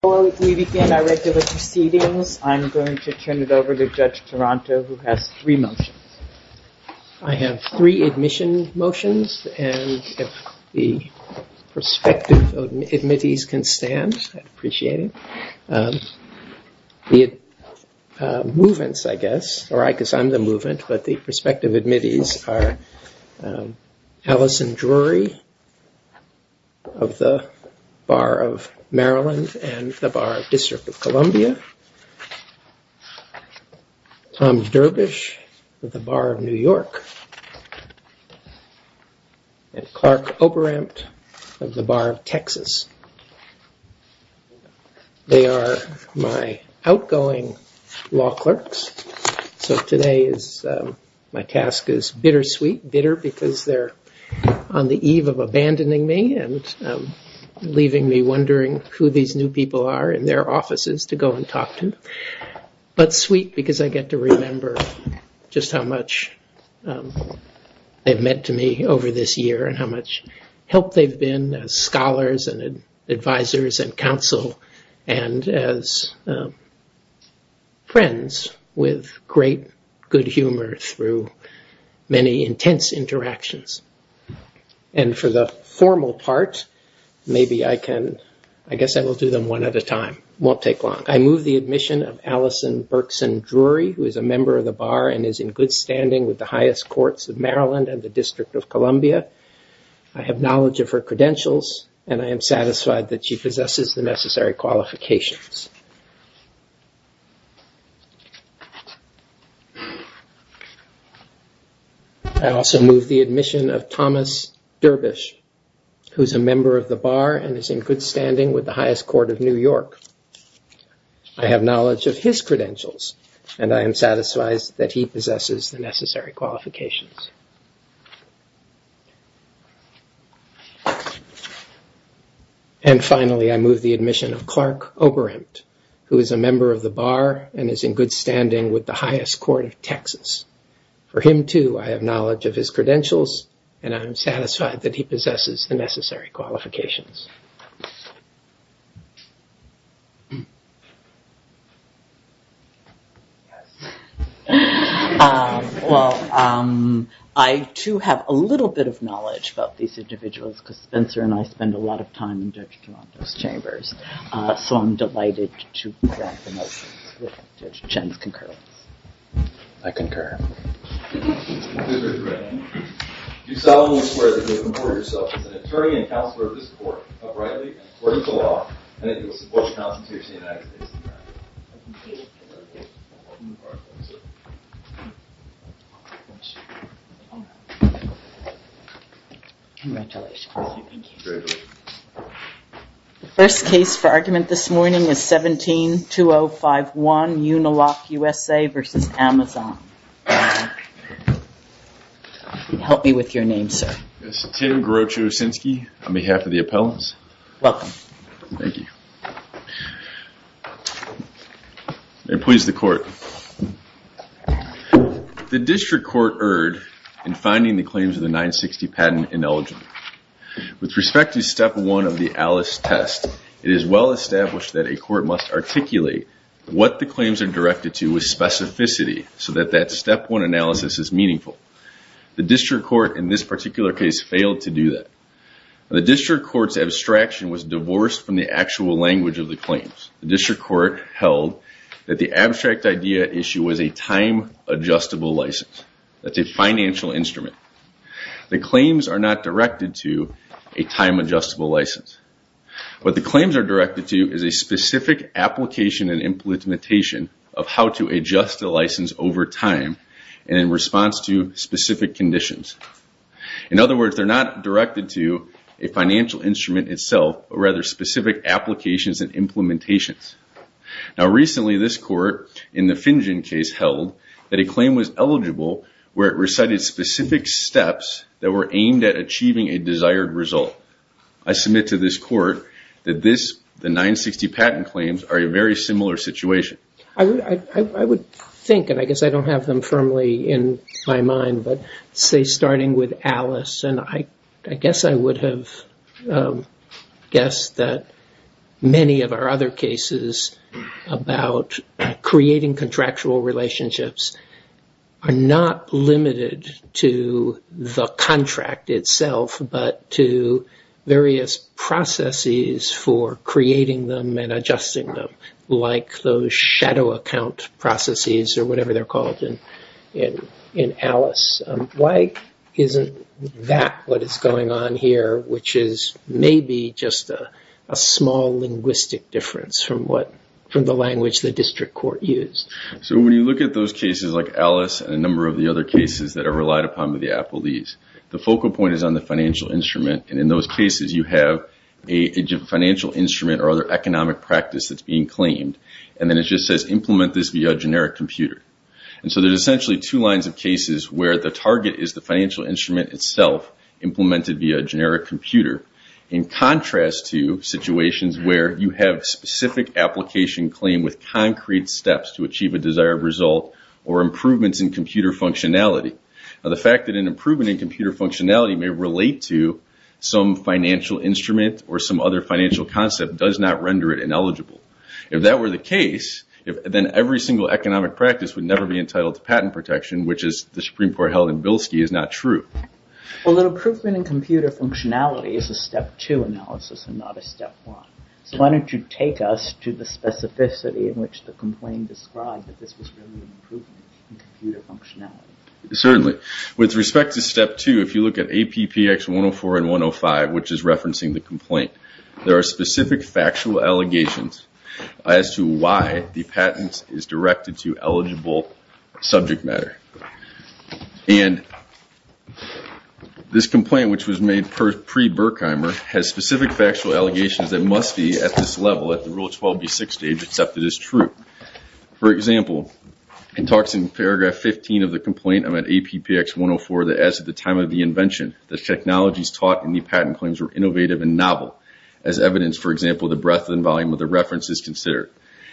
Before we begin our regular proceedings, I'm going to turn it over to Judge Toronto, who has three motions. I have three admission motions, and if the prospective admittees can stand, I'd appreciate it. The movements, I guess, or I guess I'm the movement, but the prospective admittees are Allison Drury of the Bar of Maryland and the Bar of District of Columbia, Tom Derbysh of the Bar of New York, and Clark Oberamt of the Bar of Texas. They are my outgoing law clerks. So today my task is bittersweet, bitter because they're on the eve of abandoning me and leaving me wondering who these new people are in their offices to go and talk to, but sweet because I get to remember just how much they've meant to me over this year and how much help they've been as scholars and advisors and counsel and as friends with great good humor through many intense interactions. And for the formal part, maybe I can, I guess I will do them one at a time. It won't take long. I move the admission of Allison Berkson Drury, who is a member of the Bar and is in good standing with the highest courts of Maryland and the District of Columbia. I have knowledge of her credentials, and I am satisfied that she possesses the necessary qualifications. I also move the admission of Thomas Derbysh, who is a member of the Bar and is in good standing with the highest court of New York. I have knowledge of his credentials, and I am satisfied that he possesses the necessary qualifications. And finally, I move the admission of Clark Oberamt, who is a member of the Bar and is in good standing with the highest court of Texas. For him, too, I have knowledge of his credentials, and I am satisfied that he possesses the necessary qualifications. Well, I, too, have a little bit of knowledge about these individuals because Spencer and I spend a lot of time in Judge Galanto's chambers, so I'm delighted to grant the motions with Judge Chen's concurrence. I concur. Mr. Duran, do solemnly swear that you will comport yourself as an attorney and counselor of this court uprightly and according to law, and that you will support the Constitution of the United States of America. Congratulations. Thank you. Congratulations. The first case for argument this morning is 17-2051, Uniloc USA v. Amazon. Help me with your name, sir. Yes, Tim Groucho Osinski on behalf of the appellants. Welcome. Thank you. May it please the court. The district court erred in finding the claims of the 960 patent ineligible. With respect to step one of the Alice test, it is well established that a court must articulate what the claims are directed to with specificity so that that step one analysis is meaningful. The district court in this particular case failed to do that. The district court's abstraction was divorced from the actual language of the claims. The district court held that the abstract idea issue was a time-adjustable license. That's a financial instrument. The claims are not directed to a time-adjustable license. What the claims are directed to is a specific application and implementation of how to adjust the license over time and in response to specific conditions. In other words, they're not directed to a financial instrument itself, but rather specific applications and implementations. Now recently, this court in the Finjen case held that a claim was eligible where it recited specific steps that were aimed at achieving a desired result. I submit to this court that the 960 patent claims are a very similar situation. I would think, and I guess I don't have them firmly in my mind, but say starting with Alice, and I guess I would have guessed that many of our other cases about creating contractual relationships are not limited to the contract itself, but to various processes for creating them and adjusting them, like those shadow account processes or whatever they're called in Alice. Why isn't that what is going on here, which is maybe just a small linguistic difference from the language the district court used? When you look at those cases like Alice and a number of the other cases that are relied upon by the appellees, the focal point is on the financial instrument. In those cases, you have a financial instrument or other economic practice that's being claimed, and then it just says implement this via a generic computer. There's essentially two lines of cases where the target is the financial instrument itself implemented via a generic computer, in contrast to situations where you have specific application claim with concrete steps to achieve a desired result or improvements in computer functionality. The fact that an improvement in computer functionality may relate to some financial instrument or some other financial concept does not render it ineligible. If that were the case, then every single economic practice would never be entitled to patent protection, which as the Supreme Court held in Bilski is not true. Well, the improvement in computer functionality is a step two analysis and not a step one. So why don't you take us to the specificity in which the complaint described that this was really improvement in computer functionality. Certainly. With respect to step two, if you look at APPX 104 and 105, which is referencing the complaint, there are specific factual allegations as to why the patent is directed to eligible subject matter. And this complaint, which was made pre-Burkheimer, has specific factual allegations that must be at this level at the Rule 12B6 stage accepted as true. For example, it talks in paragraph 15 of the complaint on APPX 104 that as at the time of the invention, the technologies taught in the patent claims were innovative and novel. As evidence, for example, the breadth and volume of the reference is considered.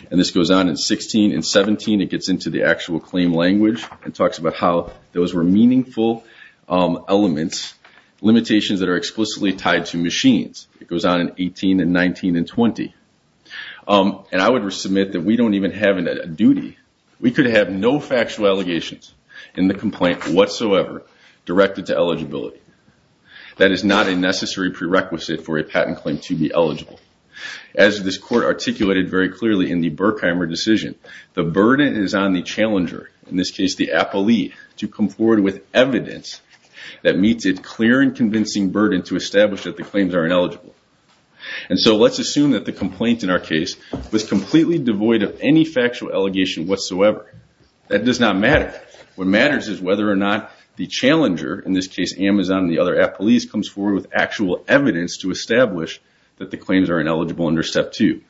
And this goes on in 16 and 17. It gets into the actual claim language and talks about how those were meaningful elements, limitations that are explicitly tied to machines. It goes on in 18 and 19 and 20. And I would submit that we don't even have a duty. We could have no factual allegations in the complaint whatsoever directed to eligibility. That is not a necessary prerequisite for a patent claim to be eligible. As this court articulated very clearly in the Burkheimer decision, the burden is on the challenger, in this case the appellee, to come forward with evidence that meets a clear and convincing burden to establish that the claims are ineligible. And so let's assume that the complaint in our case was completely devoid of any factual allegation whatsoever. That does not matter. What matters is whether or not the challenger, in this case Amazon and the other appellees, comes forward with actual evidence to establish that the claims are ineligible under Step 2.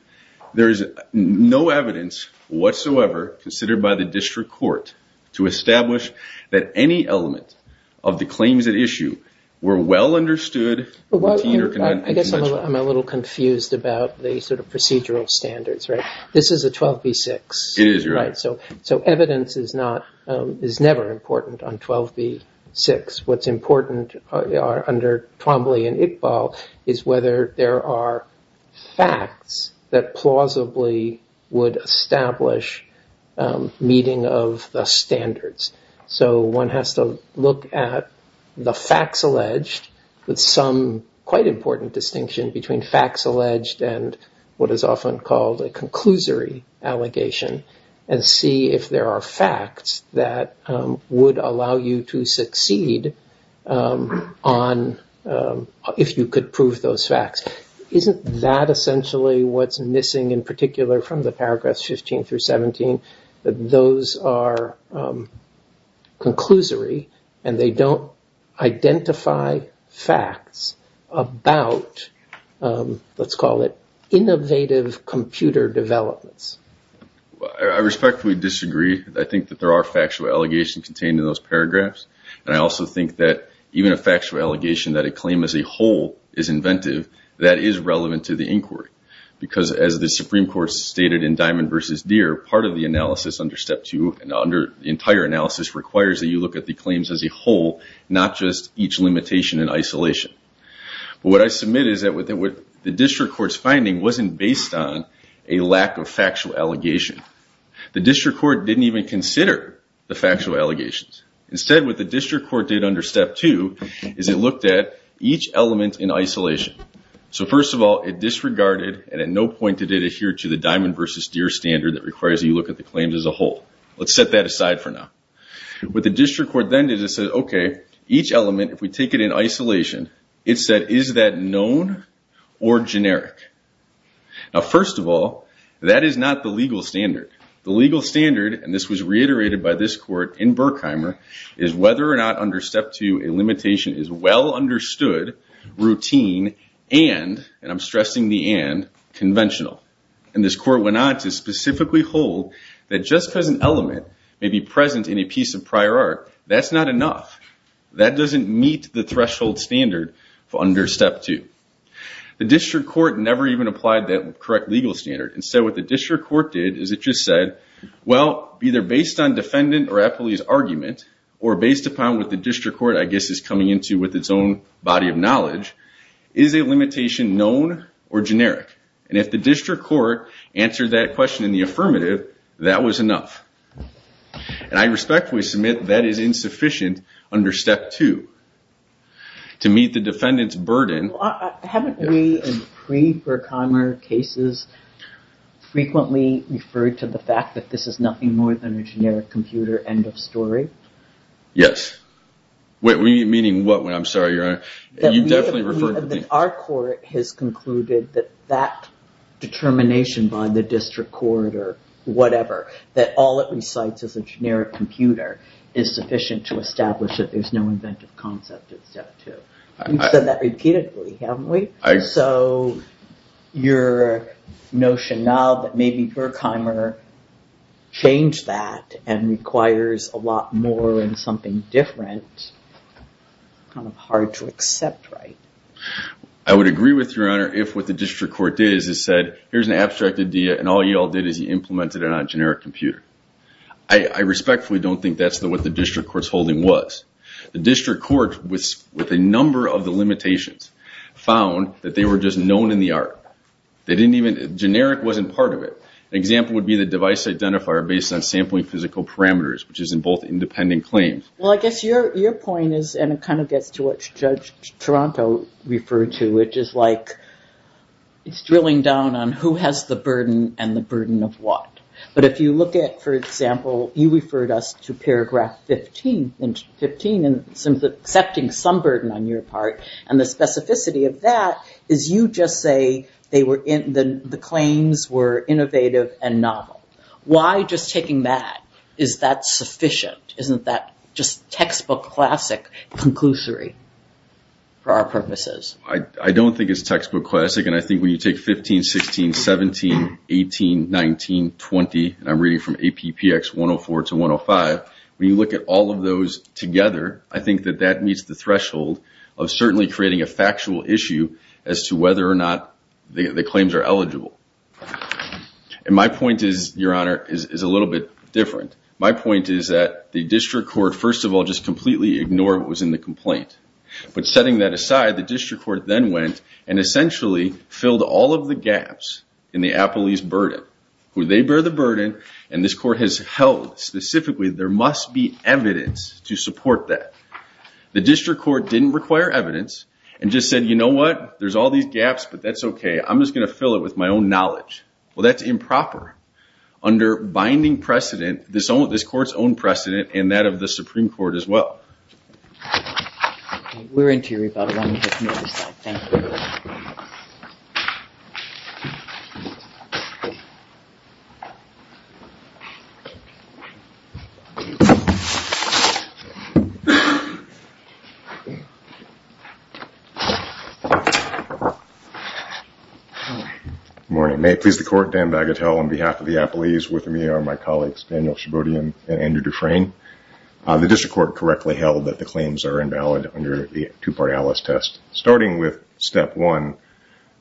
There is no evidence whatsoever considered by the district court to establish that any element of the claims at issue were well understood, routine, or conventional. I guess I'm a little confused about the sort of procedural standards, right? This is a 12b-6. It is, your Honor. So evidence is never important on 12b-6. What's important under Twombly and Iqbal is whether there are facts that plausibly would establish meeting of the standards. So one has to look at the facts alleged with some quite important distinction between facts alleged and what is often called a conclusory allegation and see if there are facts that would allow you to succeed if you could prove those facts. Isn't that essentially what's missing in particular from the paragraphs 15 through 17? That those are conclusory and they don't identify facts about, let's call it, innovative computer developments. I respectfully disagree. I think that there are factual allegations contained in those paragraphs, and I also think that even a factual allegation that a claim as a whole is inventive, that is relevant to the inquiry. Because as the Supreme Court stated in Diamond versus Deere, part of the analysis under Step 2 and under the entire analysis requires that you look at the claims as a whole, not just each limitation and isolation. But what I submit is that the district court's finding wasn't based on a lack of factual allegation. The district court didn't even consider the factual allegations. Instead, what the district court did under Step 2 is it looked at each element in isolation. So first of all, it disregarded and at no point did it adhere to the Diamond versus Deere standard that requires that you look at the claims as a whole. Let's set that aside for now. What the district court then did is it said, okay, each element, if we take it in isolation, it said, is that known or generic? Now, first of all, that is not the legal standard. The legal standard, and this was reiterated by this court in Berkheimer, is whether or not under Step 2 a limitation is well understood, routine, and, and I'm stressing the and, conventional. And this court went on to specifically hold that just because an element may be present in a piece of prior art, that's not enough. That doesn't meet the threshold standard for under Step 2. The district court never even applied that correct legal standard. Instead, what the district court did is it just said, well, either based on defendant or appellee's argument, or based upon what the district court, I guess, is coming into with its own body of knowledge, is a limitation known or generic? And if the district court answered that question in the affirmative, that was enough. And I respectfully submit that is insufficient under Step 2. To meet the defendant's burden. Haven't we, in pre-Berkheimer cases, frequently referred to the fact that this is nothing more than a generic computer end of story? Yes. Meaning what, I'm sorry, Your Honor? Our court has concluded that that determination by the district court or whatever, that all it recites is a generic computer, is sufficient to establish that there's no inventive concept in Step 2. We've said that repeatedly, haven't we? So your notion now that maybe Berkheimer changed that and requires a lot more in something different, kind of hard to accept, right? I would agree with you, Your Honor, if what the district court did is it said, here's an abstract idea, and all you all did is you implemented it on a generic computer. I respectfully don't think that's what the district court's holding was. The district court, with a number of the limitations, found that they were just known in the art. They didn't even, generic wasn't part of it. An example would be the device identifier based on sampling physical parameters, which is in both independent claims. Well, I guess your point is, and it kind of gets to what Judge Toronto referred to, which is like, it's drilling down on who has the burden and the burden of what. But if you look at, for example, you referred us to paragraph 15 in accepting some burden on your part, and the specificity of that is you just say the claims were innovative and novel. Why just taking that? Is that sufficient? Isn't that just textbook classic conclusory for our purposes? I don't think it's textbook classic, and I think when you take 15, 16, 17, 18, 19, 20, and I'm reading from APPX 104 to 105, when you look at all of those together, I think that that meets the threshold of certainly creating a factual issue as to whether or not the claims are eligible. And my point is, Your Honor, is a little bit different. My point is that the district court, first of all, just completely ignored what was in the complaint. But setting that aside, the district court then went and essentially filled all of the gaps in the appellee's burden. They bear the burden, and this court has held specifically there must be evidence to support that. The district court didn't require evidence and just said, you know what, there's all these gaps, but that's okay. I'm just going to fill it with my own knowledge. Well, that's improper under binding precedent, this court's own precedent, and that of the Supreme Court as well. We're into your rebuttal. Thank you. Good morning. May it please the Court, Dan Bagatelle on behalf of the appellees with me are my colleagues Daniel Shabody and Andrew Dufresne. The district court correctly held that the claims are invalid under the two-part ALICE test. Starting with step one,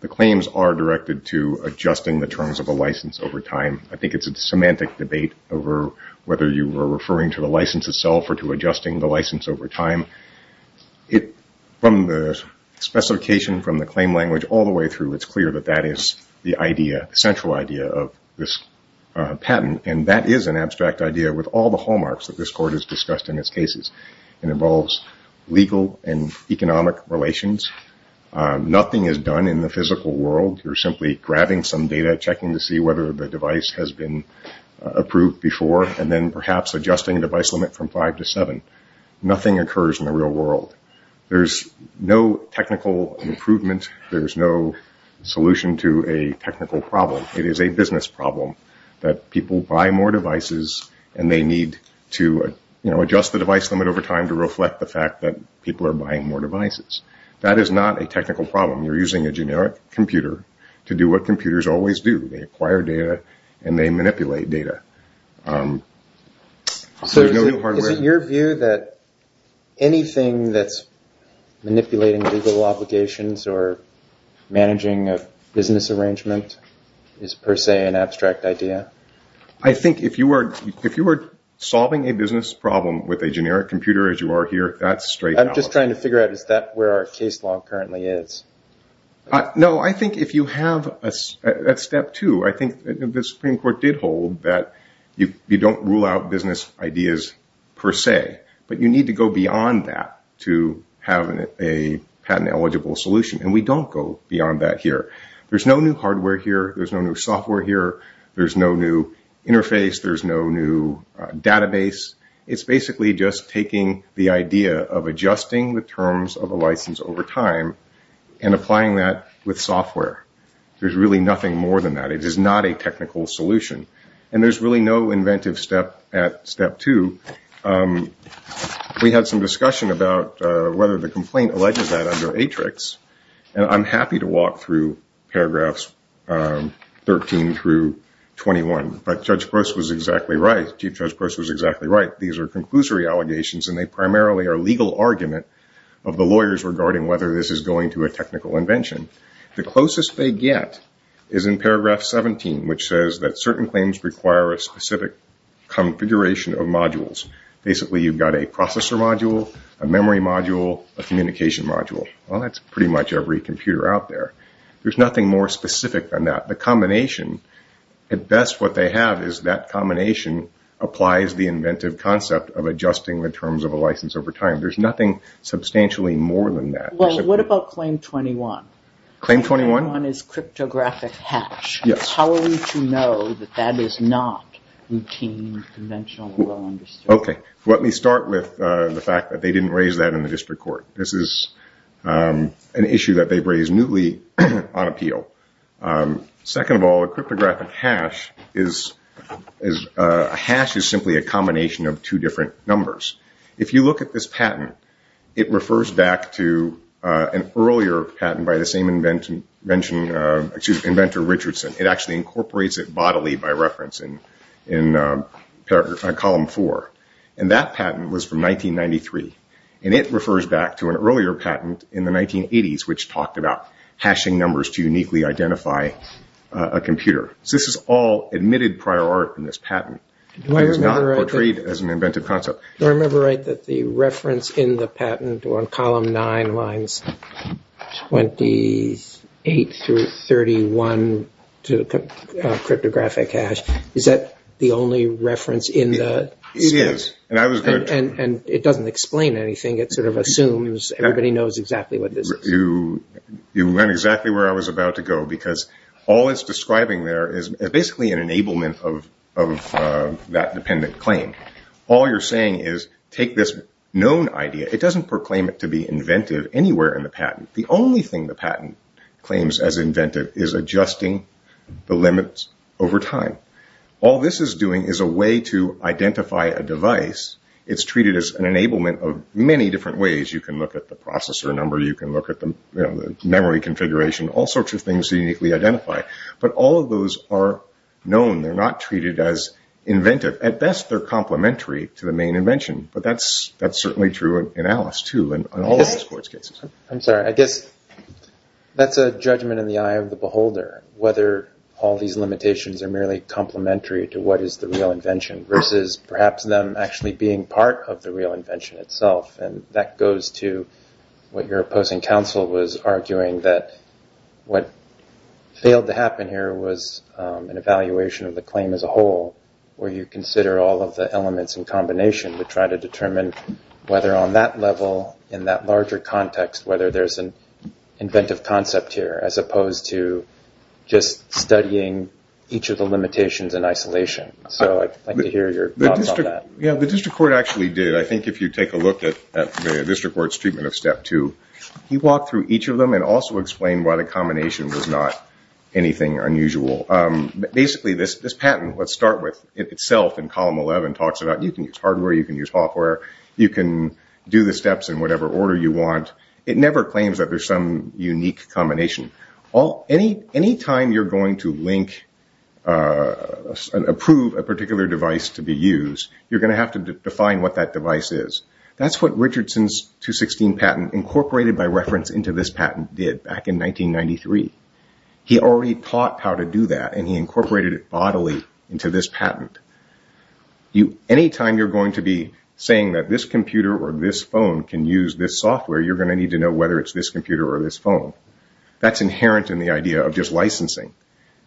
the claims are directed to adjusting the terms of a license over time. I think it's a semantic debate over whether you were referring to the license itself or to adjusting the license over time. From the specification, from the claim language, all the way through, it's clear that that is the central idea of this patent. And that is an abstract idea with all the hallmarks that this court has discussed in its cases. It involves legal and economic relations. Nothing is done in the physical world. You're simply grabbing some data, checking to see whether the device has been approved before, and then perhaps adjusting the device limit from five to seven. Nothing occurs in the real world. There's no technical improvement. There's no solution to a technical problem. It is a business problem that people buy more devices and they need to adjust the device limit over time to reflect the fact that people are buying more devices. That is not a technical problem. You're using a generic computer to do what computers always do. They acquire data and they manipulate data. So is it your view that anything that's manipulating legal obligations or managing a business arrangement is per se an abstract idea? I think if you were solving a business problem with a generic computer as you are here, that's straight out. I'm just trying to figure out is that where our case law currently is. No, I think if you have that's step two. I think the Supreme Court did hold that you don't rule out business ideas per se, but you need to go beyond that to have a patent eligible solution, and we don't go beyond that here. There's no new hardware here. There's no new software here. There's no new interface. There's no new database. It's basically just taking the idea of adjusting the terms of a license over time and applying that with software. There's really nothing more than that. It is not a technical solution, and there's really no inventive step at step two. We had some discussion about whether the complaint alleges that under Atrix, and I'm happy to walk through paragraphs 13 through 21. But Judge Gross was exactly right. Chief Judge Gross was exactly right. These are conclusory allegations, and they primarily are legal argument of the lawyers regarding whether this is going to a technical invention. The closest they get is in paragraph 17, which says that certain claims require a specific configuration of modules. Basically, you've got a processor module, a memory module, a communication module. Well, that's pretty much every computer out there. There's nothing more specific than that. The combination, at best what they have is that combination applies the inventive concept of adjusting the terms of a license over time. There's nothing substantially more than that. Well, what about claim 21? Claim 21? Claim 21 is cryptographic hash. Yes. How are we to know that that is not routine, conventional, well understood? Okay. Let me start with the fact that they didn't raise that in the district court. This is an issue that they've raised newly on appeal. Second of all, a cryptographic hash is simply a combination of two different numbers. If you look at this patent, it refers back to an earlier patent by the same inventor, Richardson. It actually incorporates it bodily by reference in column four. That patent was from 1993. It refers back to an earlier patent in the 1980s, which talked about hashing numbers to uniquely identify a computer. This is all admitted prior art in this patent. It is not portrayed as an inventive concept. Do I remember right that the reference in the patent on column nine lines 28 through 31 to cryptographic hash, is that the only reference in the statute? It is. It doesn't explain anything. It sort of assumes everybody knows exactly what this is. You went exactly where I was about to go because all it's describing there is basically an enablement of that dependent claim. All you're saying is take this known idea. It doesn't proclaim it to be inventive anywhere in the patent. The only thing the patent claims as inventive is adjusting the limits over time. All this is doing is a way to identify a device. It's treated as an enablement of many different ways. You can look at the processor number. You can look at the memory configuration, all sorts of things uniquely identified. But all of those are known. They're not treated as inventive. At best, they're complementary to the main invention. But that's certainly true in Alice, too, and all of the sports cases. I'm sorry. I guess that's a judgment in the eye of the beholder, whether all these limitations are merely complementary to what is the real invention versus perhaps them actually being part of the real invention itself. That goes to what your opposing counsel was arguing that what failed to happen here was an evaluation of the claim as a whole where you consider all of the elements in combination to try to determine whether on that level, in that larger context, whether there's an inventive concept here as opposed to just studying each of the limitations in isolation. So I'd like to hear your thoughts on that. Yeah, the district court actually did. I think if you take a look at the district court's treatment of step two, he walked through each of them and also explained why the combination was not anything unusual. Basically, this patent itself in column 11 talks about you can use hardware, you can use software, you can do the steps in whatever order you want. It never claims that there's some unique combination. Anytime you're going to approve a particular device to be used, you're going to have to define what that device is. That's what Richardson's 216 patent, incorporated by reference into this patent, did back in 1993. He already taught how to do that and he incorporated it bodily into this patent. Anytime you're going to be saying that this computer or this phone can use this software, you're going to need to know whether it's this computer or this phone. That's inherent in the idea of just licensing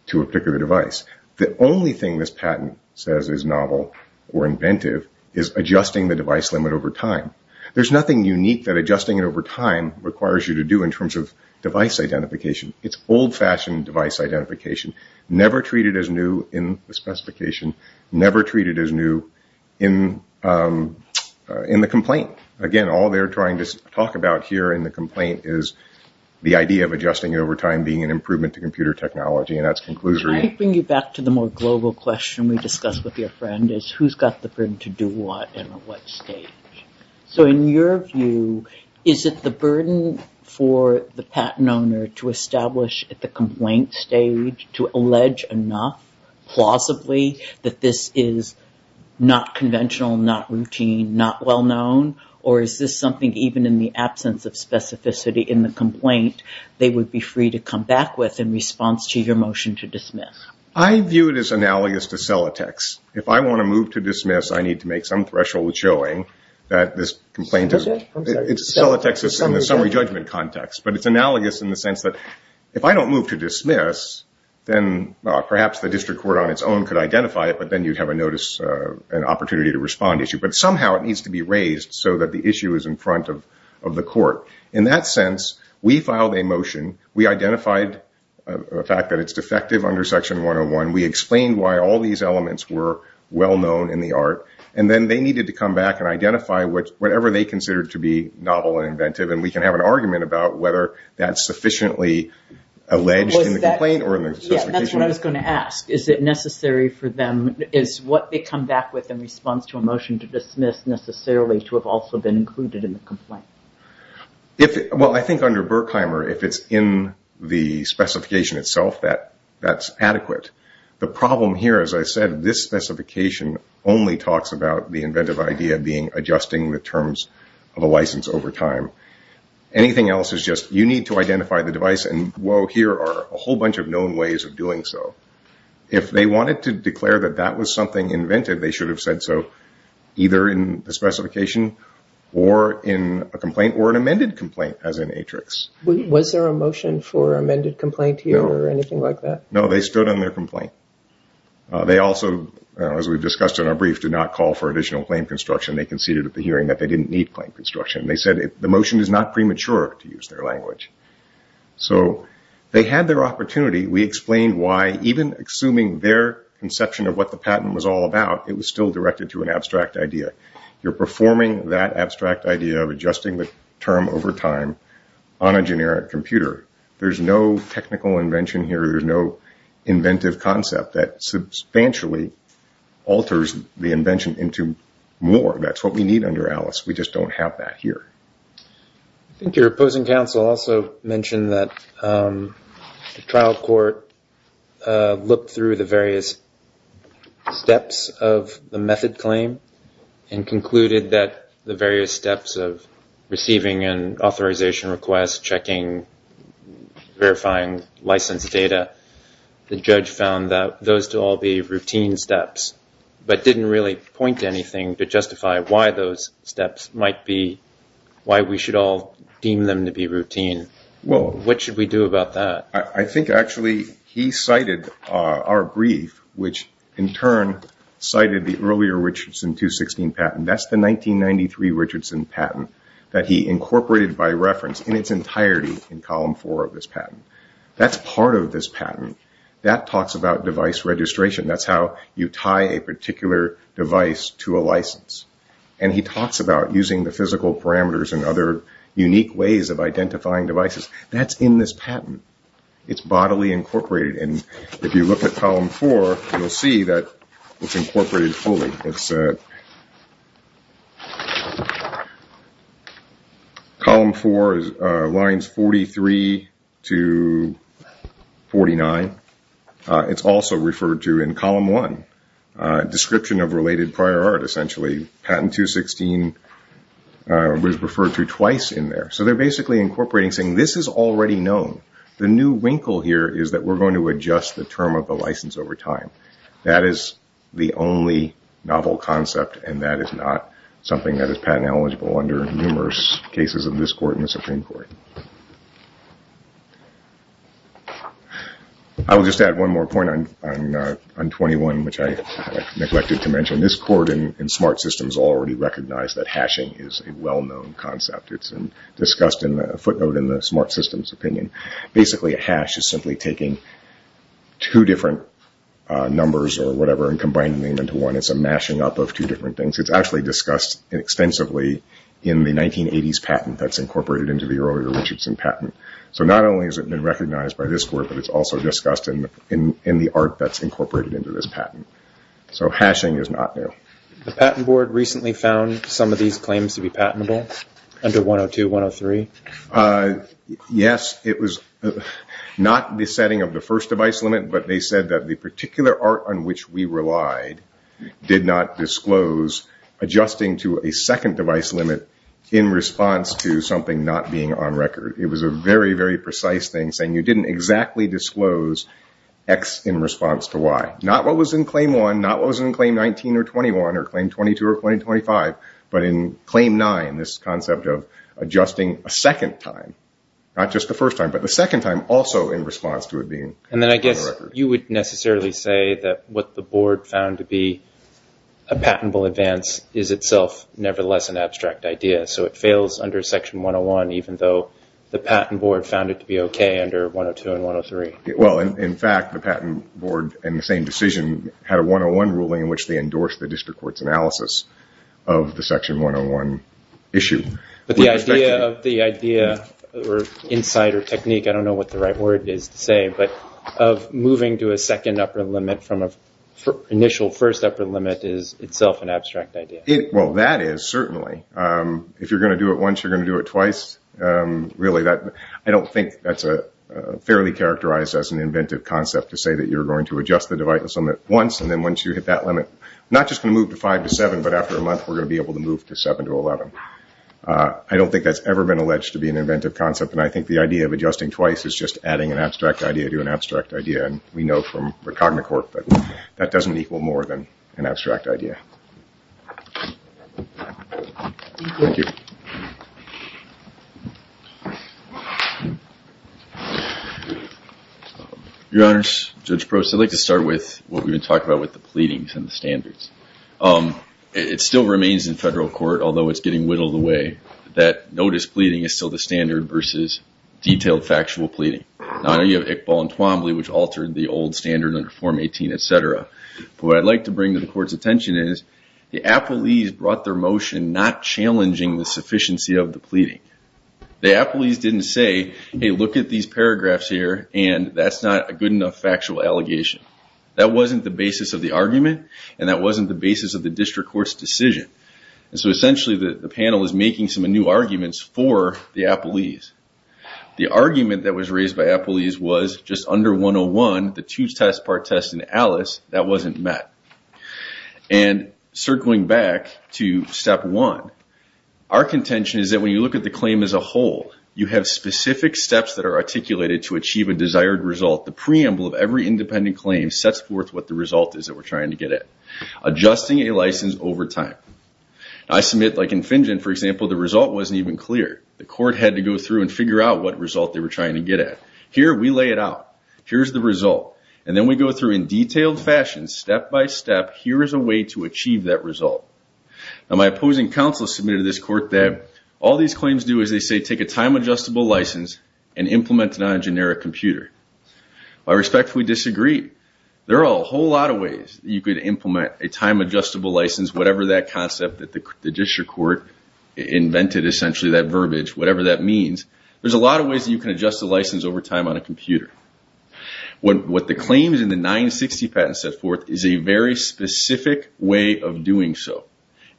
to a particular device. The only thing this patent says is novel or inventive is adjusting the device limit over time. There's nothing unique that adjusting it over time requires you to do in terms of device identification. It's old-fashioned device identification, never treated as new in the specification, never treated as new in the complaint. Again, all they're trying to talk about here in the complaint is the idea of adjusting it over time being an improvement to computer technology and that's conclusory. Can I bring you back to the more global question we discussed with your friend, is who's got the burden to do what and at what stage? In your view, is it the burden for the patent owner to establish at the complaint stage to allege enough, plausibly, that this is not conventional, not routine, not well-known, or is this something even in the absence of specificity in the complaint they would be free to come back with in response to your motion to dismiss? I view it as analogous to Celotex. If I want to move to dismiss, I need to make some threshold showing that this complaint is Celotex in the summary judgment context, but it's analogous in the sense that if I don't move to dismiss, then perhaps the district court on its own could identify it, but then you'd have a notice, an opportunity to respond issue. But somehow it needs to be raised so that the issue is in front of the court. In that sense, we filed a motion. We identified the fact that it's defective under Section 101. We explained why all these elements were well-known in the art, and then they needed to come back and identify whatever they considered to be novel and inventive, and we can have an argument about whether that's sufficiently alleged in the complaint or in the specification. That's what I was going to ask. Is it necessary for them, is what they come back with in response to a motion to dismiss necessarily to have also been included in the complaint? Well, I think under Berkheimer, if it's in the specification itself, that's adequate. The problem here, as I said, this specification only talks about the inventive idea being adjusting the terms of a license over time. Anything else is just you need to identify the device, and whoa, here are a whole bunch of known ways of doing so. If they wanted to declare that that was something inventive, they should have said so, either in the specification or in a complaint or an amended complaint, as in Atrix. Was there a motion for amended complaint here or anything like that? No, they stood on their complaint. They also, as we discussed in our brief, did not call for additional claim construction. They conceded at the hearing that they didn't need claim construction. They said the motion is not premature, to use their language. So they had their opportunity. We explained why, even assuming their conception of what the patent was all about, it was still directed to an abstract idea. You're performing that abstract idea of adjusting the term over time on a generic computer. There's no technical invention here. There's no inventive concept that substantially alters the invention into more. That's what we need under Alice. We just don't have that here. I think your opposing counsel also mentioned that the trial court looked through the various steps of the method claim and concluded that the various steps of receiving an authorization request, checking, verifying license data, the judge found that those to all be routine steps, but didn't really point to anything to justify why those steps might be why we should all deem them to be routine. What should we do about that? I think actually he cited our brief, which in turn cited the earlier Richardson 216 patent. That's the 1993 Richardson patent that he incorporated by reference in its entirety in column four of this patent. That's part of this patent. That talks about device registration. That's how you tie a particular device to a license. He talks about using the physical parameters and other unique ways of identifying devices. That's in this patent. It's bodily incorporated. If you look at column four, you'll see that it's incorporated fully. Column four lines 43 to 49. It's also referred to in column one, description of related prior art, essentially. Patent 216 was referred to twice in there. They're basically incorporating, saying this is already known. The new wrinkle here is that we're going to adjust the term of the license over time. That is the only novel concept, and that is not something that is patent eligible under numerous cases of this court and the Supreme Court. I will just add one more point on 21, which I neglected to mention. This court in smart systems already recognized that hashing is a well-known concept. It's discussed in a footnote in the smart systems opinion. Basically, a hash is simply taking two different numbers or whatever and combining them into one. It's a mashing up of two different things. It's actually discussed extensively in the 1980s patent that's incorporated into the earlier Richardson patent. So not only has it been recognized by this court, but it's also discussed in the art that's incorporated into this patent. So hashing is not new. The Patent Board recently found some of these claims to be patentable under 102, 103? Yes, it was not the setting of the first device limit, but they said that the particular art on which we relied did not disclose adjusting to a second device limit in response to something not being on record. It was a very, very precise thing, saying you didn't exactly disclose X in response to Y. Not what was in Claim 1, not what was in Claim 19 or 21 or Claim 22 or 25, but in Claim 9, this concept of adjusting a second time. Not just the first time, but the second time also in response to it being on record. And then I guess you would necessarily say that what the Board found to be a patentable advance is itself nevertheless an abstract idea. So it fails under Section 101, even though the Patent Board found it to be okay under 102 and 103. Well, in fact, the Patent Board in the same decision had a 101 ruling in which they endorsed the district court's analysis of the Section 101 issue. But the idea of the idea or insight or technique, I don't know what the right word is to say, but of moving to a second upper limit from an initial first upper limit is itself an abstract idea. Well, that is certainly. If you're going to do it once, you're going to do it twice. I don't think that's fairly characterized as an inventive concept to say that you're going to adjust the device limit once, and then once you hit that limit, not just going to move to 5 to 7, but after a month, we're going to be able to move to 7 to 11. I don't think that's ever been alleged to be an inventive concept, and I think the idea of adjusting twice is just adding an abstract idea to an abstract idea. And we know from Recognicorp that that doesn't equal more than an abstract idea. Your Honors, Judge Prost, I'd like to start with what we've been talking about with the pleadings and the standards. It still remains in federal court, although it's getting whittled away, that notice pleading is still the standard versus detailed factual pleading. I know you have Iqbal and Twombly, which altered the old standard under Form 18, et cetera. But what I'd like to bring to the Court's attention is the apologies brought their motion not challenging the sufficiency of the pleading. The apologies didn't say, hey, look at these paragraphs here, and that's not a good enough factual allegation. That wasn't the basis of the argument, and that wasn't the basis of the district court's decision. And so essentially, the panel is making some new arguments for the apologies. The argument that was raised by apologies was just under 101, the two-test part test in ALICE, that wasn't met. And circling back to step one, our contention is that when you look at the claim as a whole, you have specific steps that are articulated to achieve a desired result. The preamble of every independent claim sets forth what the result is that we're trying to get at, adjusting a license over time. I submit, like in Fingen, for example, the result wasn't even clear. The court had to go through and figure out what result they were trying to get at. Here, we lay it out. Here's the result. And then we go through in detailed fashion, step by step, here is a way to achieve that result. Now, my opposing counsel submitted to this court that all these claims do is they say take a time-adjustable license and implement it on a generic computer. I respectfully disagree. There are a whole lot of ways you could implement a time-adjustable license, whatever that concept that the district court invented, essentially, that verbiage, whatever that means. There's a lot of ways that you can adjust a license over time on a computer. What the claims in the 960 patent set forth is a very specific way of doing so.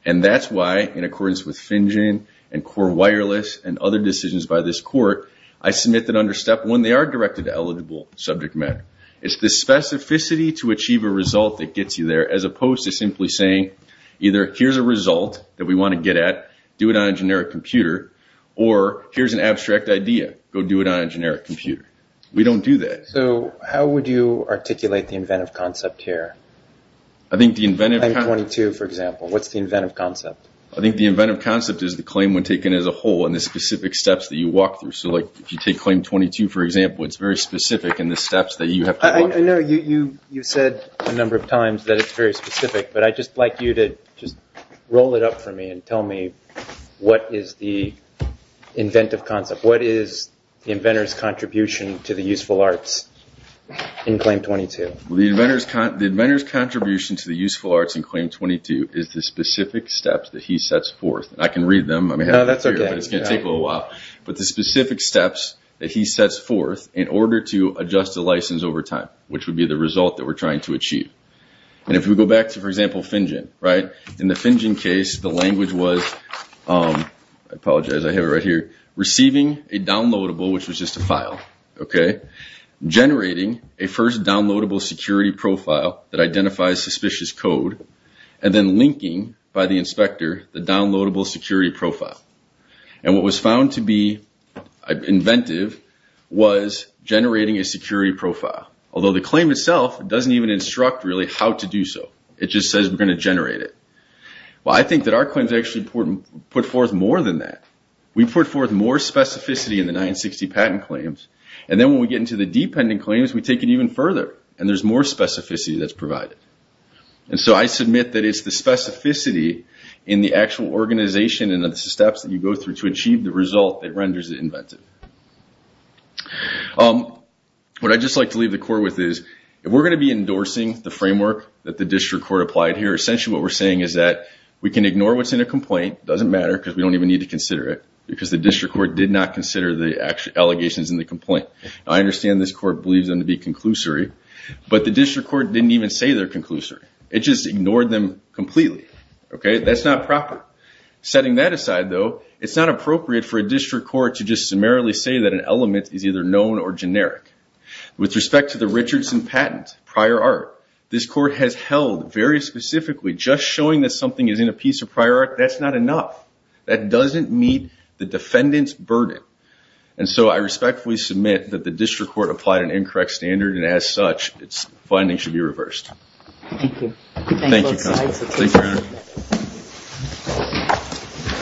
And that's why, in accordance with Fingen and Core Wireless and other decisions by this court, I submit that under Step 1, they are directed to eligible subject matter. It's the specificity to achieve a result that gets you there, as opposed to simply saying, either here's a result that we want to get at, do it on a generic computer, or here's an abstract idea, go do it on a generic computer. We don't do that. So how would you articulate the inventive concept here? I think the inventive concept. Claim 22, for example. What's the inventive concept? I think the inventive concept is the claim when taken as a whole and the specific steps that you walk through. So, like, if you take Claim 22, for example, it's very specific in the steps that you have to walk through. I know you've said a number of times that it's very specific, but I'd just like you to just roll it up for me and tell me what is the inventive concept. What is the inventor's contribution to the useful arts in Claim 22? The inventor's contribution to the useful arts in Claim 22 is the specific steps that he sets forth. I can read them. No, that's okay. It's going to take a little while. But the specific steps that he sets forth in order to adjust a license over time, which would be the result that we're trying to achieve. And if we go back to, for example, FinGen, right? In the FinGen case, the language was, I apologize, I have it right here, receiving a downloadable, which was just a file, okay, generating a first downloadable security profile that identifies suspicious code, and then linking by the inspector the downloadable security profile. And what was found to be inventive was generating a security profile. Although the claim itself doesn't even instruct really how to do so. It just says we're going to generate it. Well, I think that our claims actually put forth more than that. We put forth more specificity in the 960 patent claims, and then when we get into the dependent claims, we take it even further, and there's more specificity that's provided. And so I submit that it's the specificity in the actual organization and the steps that you go through to achieve the result that renders it inventive. What I'd just like to leave the court with is, if we're going to be endorsing the framework that the district court applied here, essentially what we're saying is that we can ignore what's in a complaint, it doesn't matter because we don't even need to consider it, because the district court did not consider the allegations in the complaint. I understand this court believes them to be conclusory, but the district court didn't even say they're conclusory. It just ignored them completely, okay? That's not proper. Setting that aside, though, it's not appropriate for a district court to just summarily say that an element is either known or generic. With respect to the Richardson patent prior art, this court has held very specifically, just showing that something is in a piece of prior art, that's not enough. That doesn't meet the defendant's burden. And so I respectfully submit that the district court applied an incorrect standard, and as such, its findings should be reversed. Thank you. Thank you, counsel.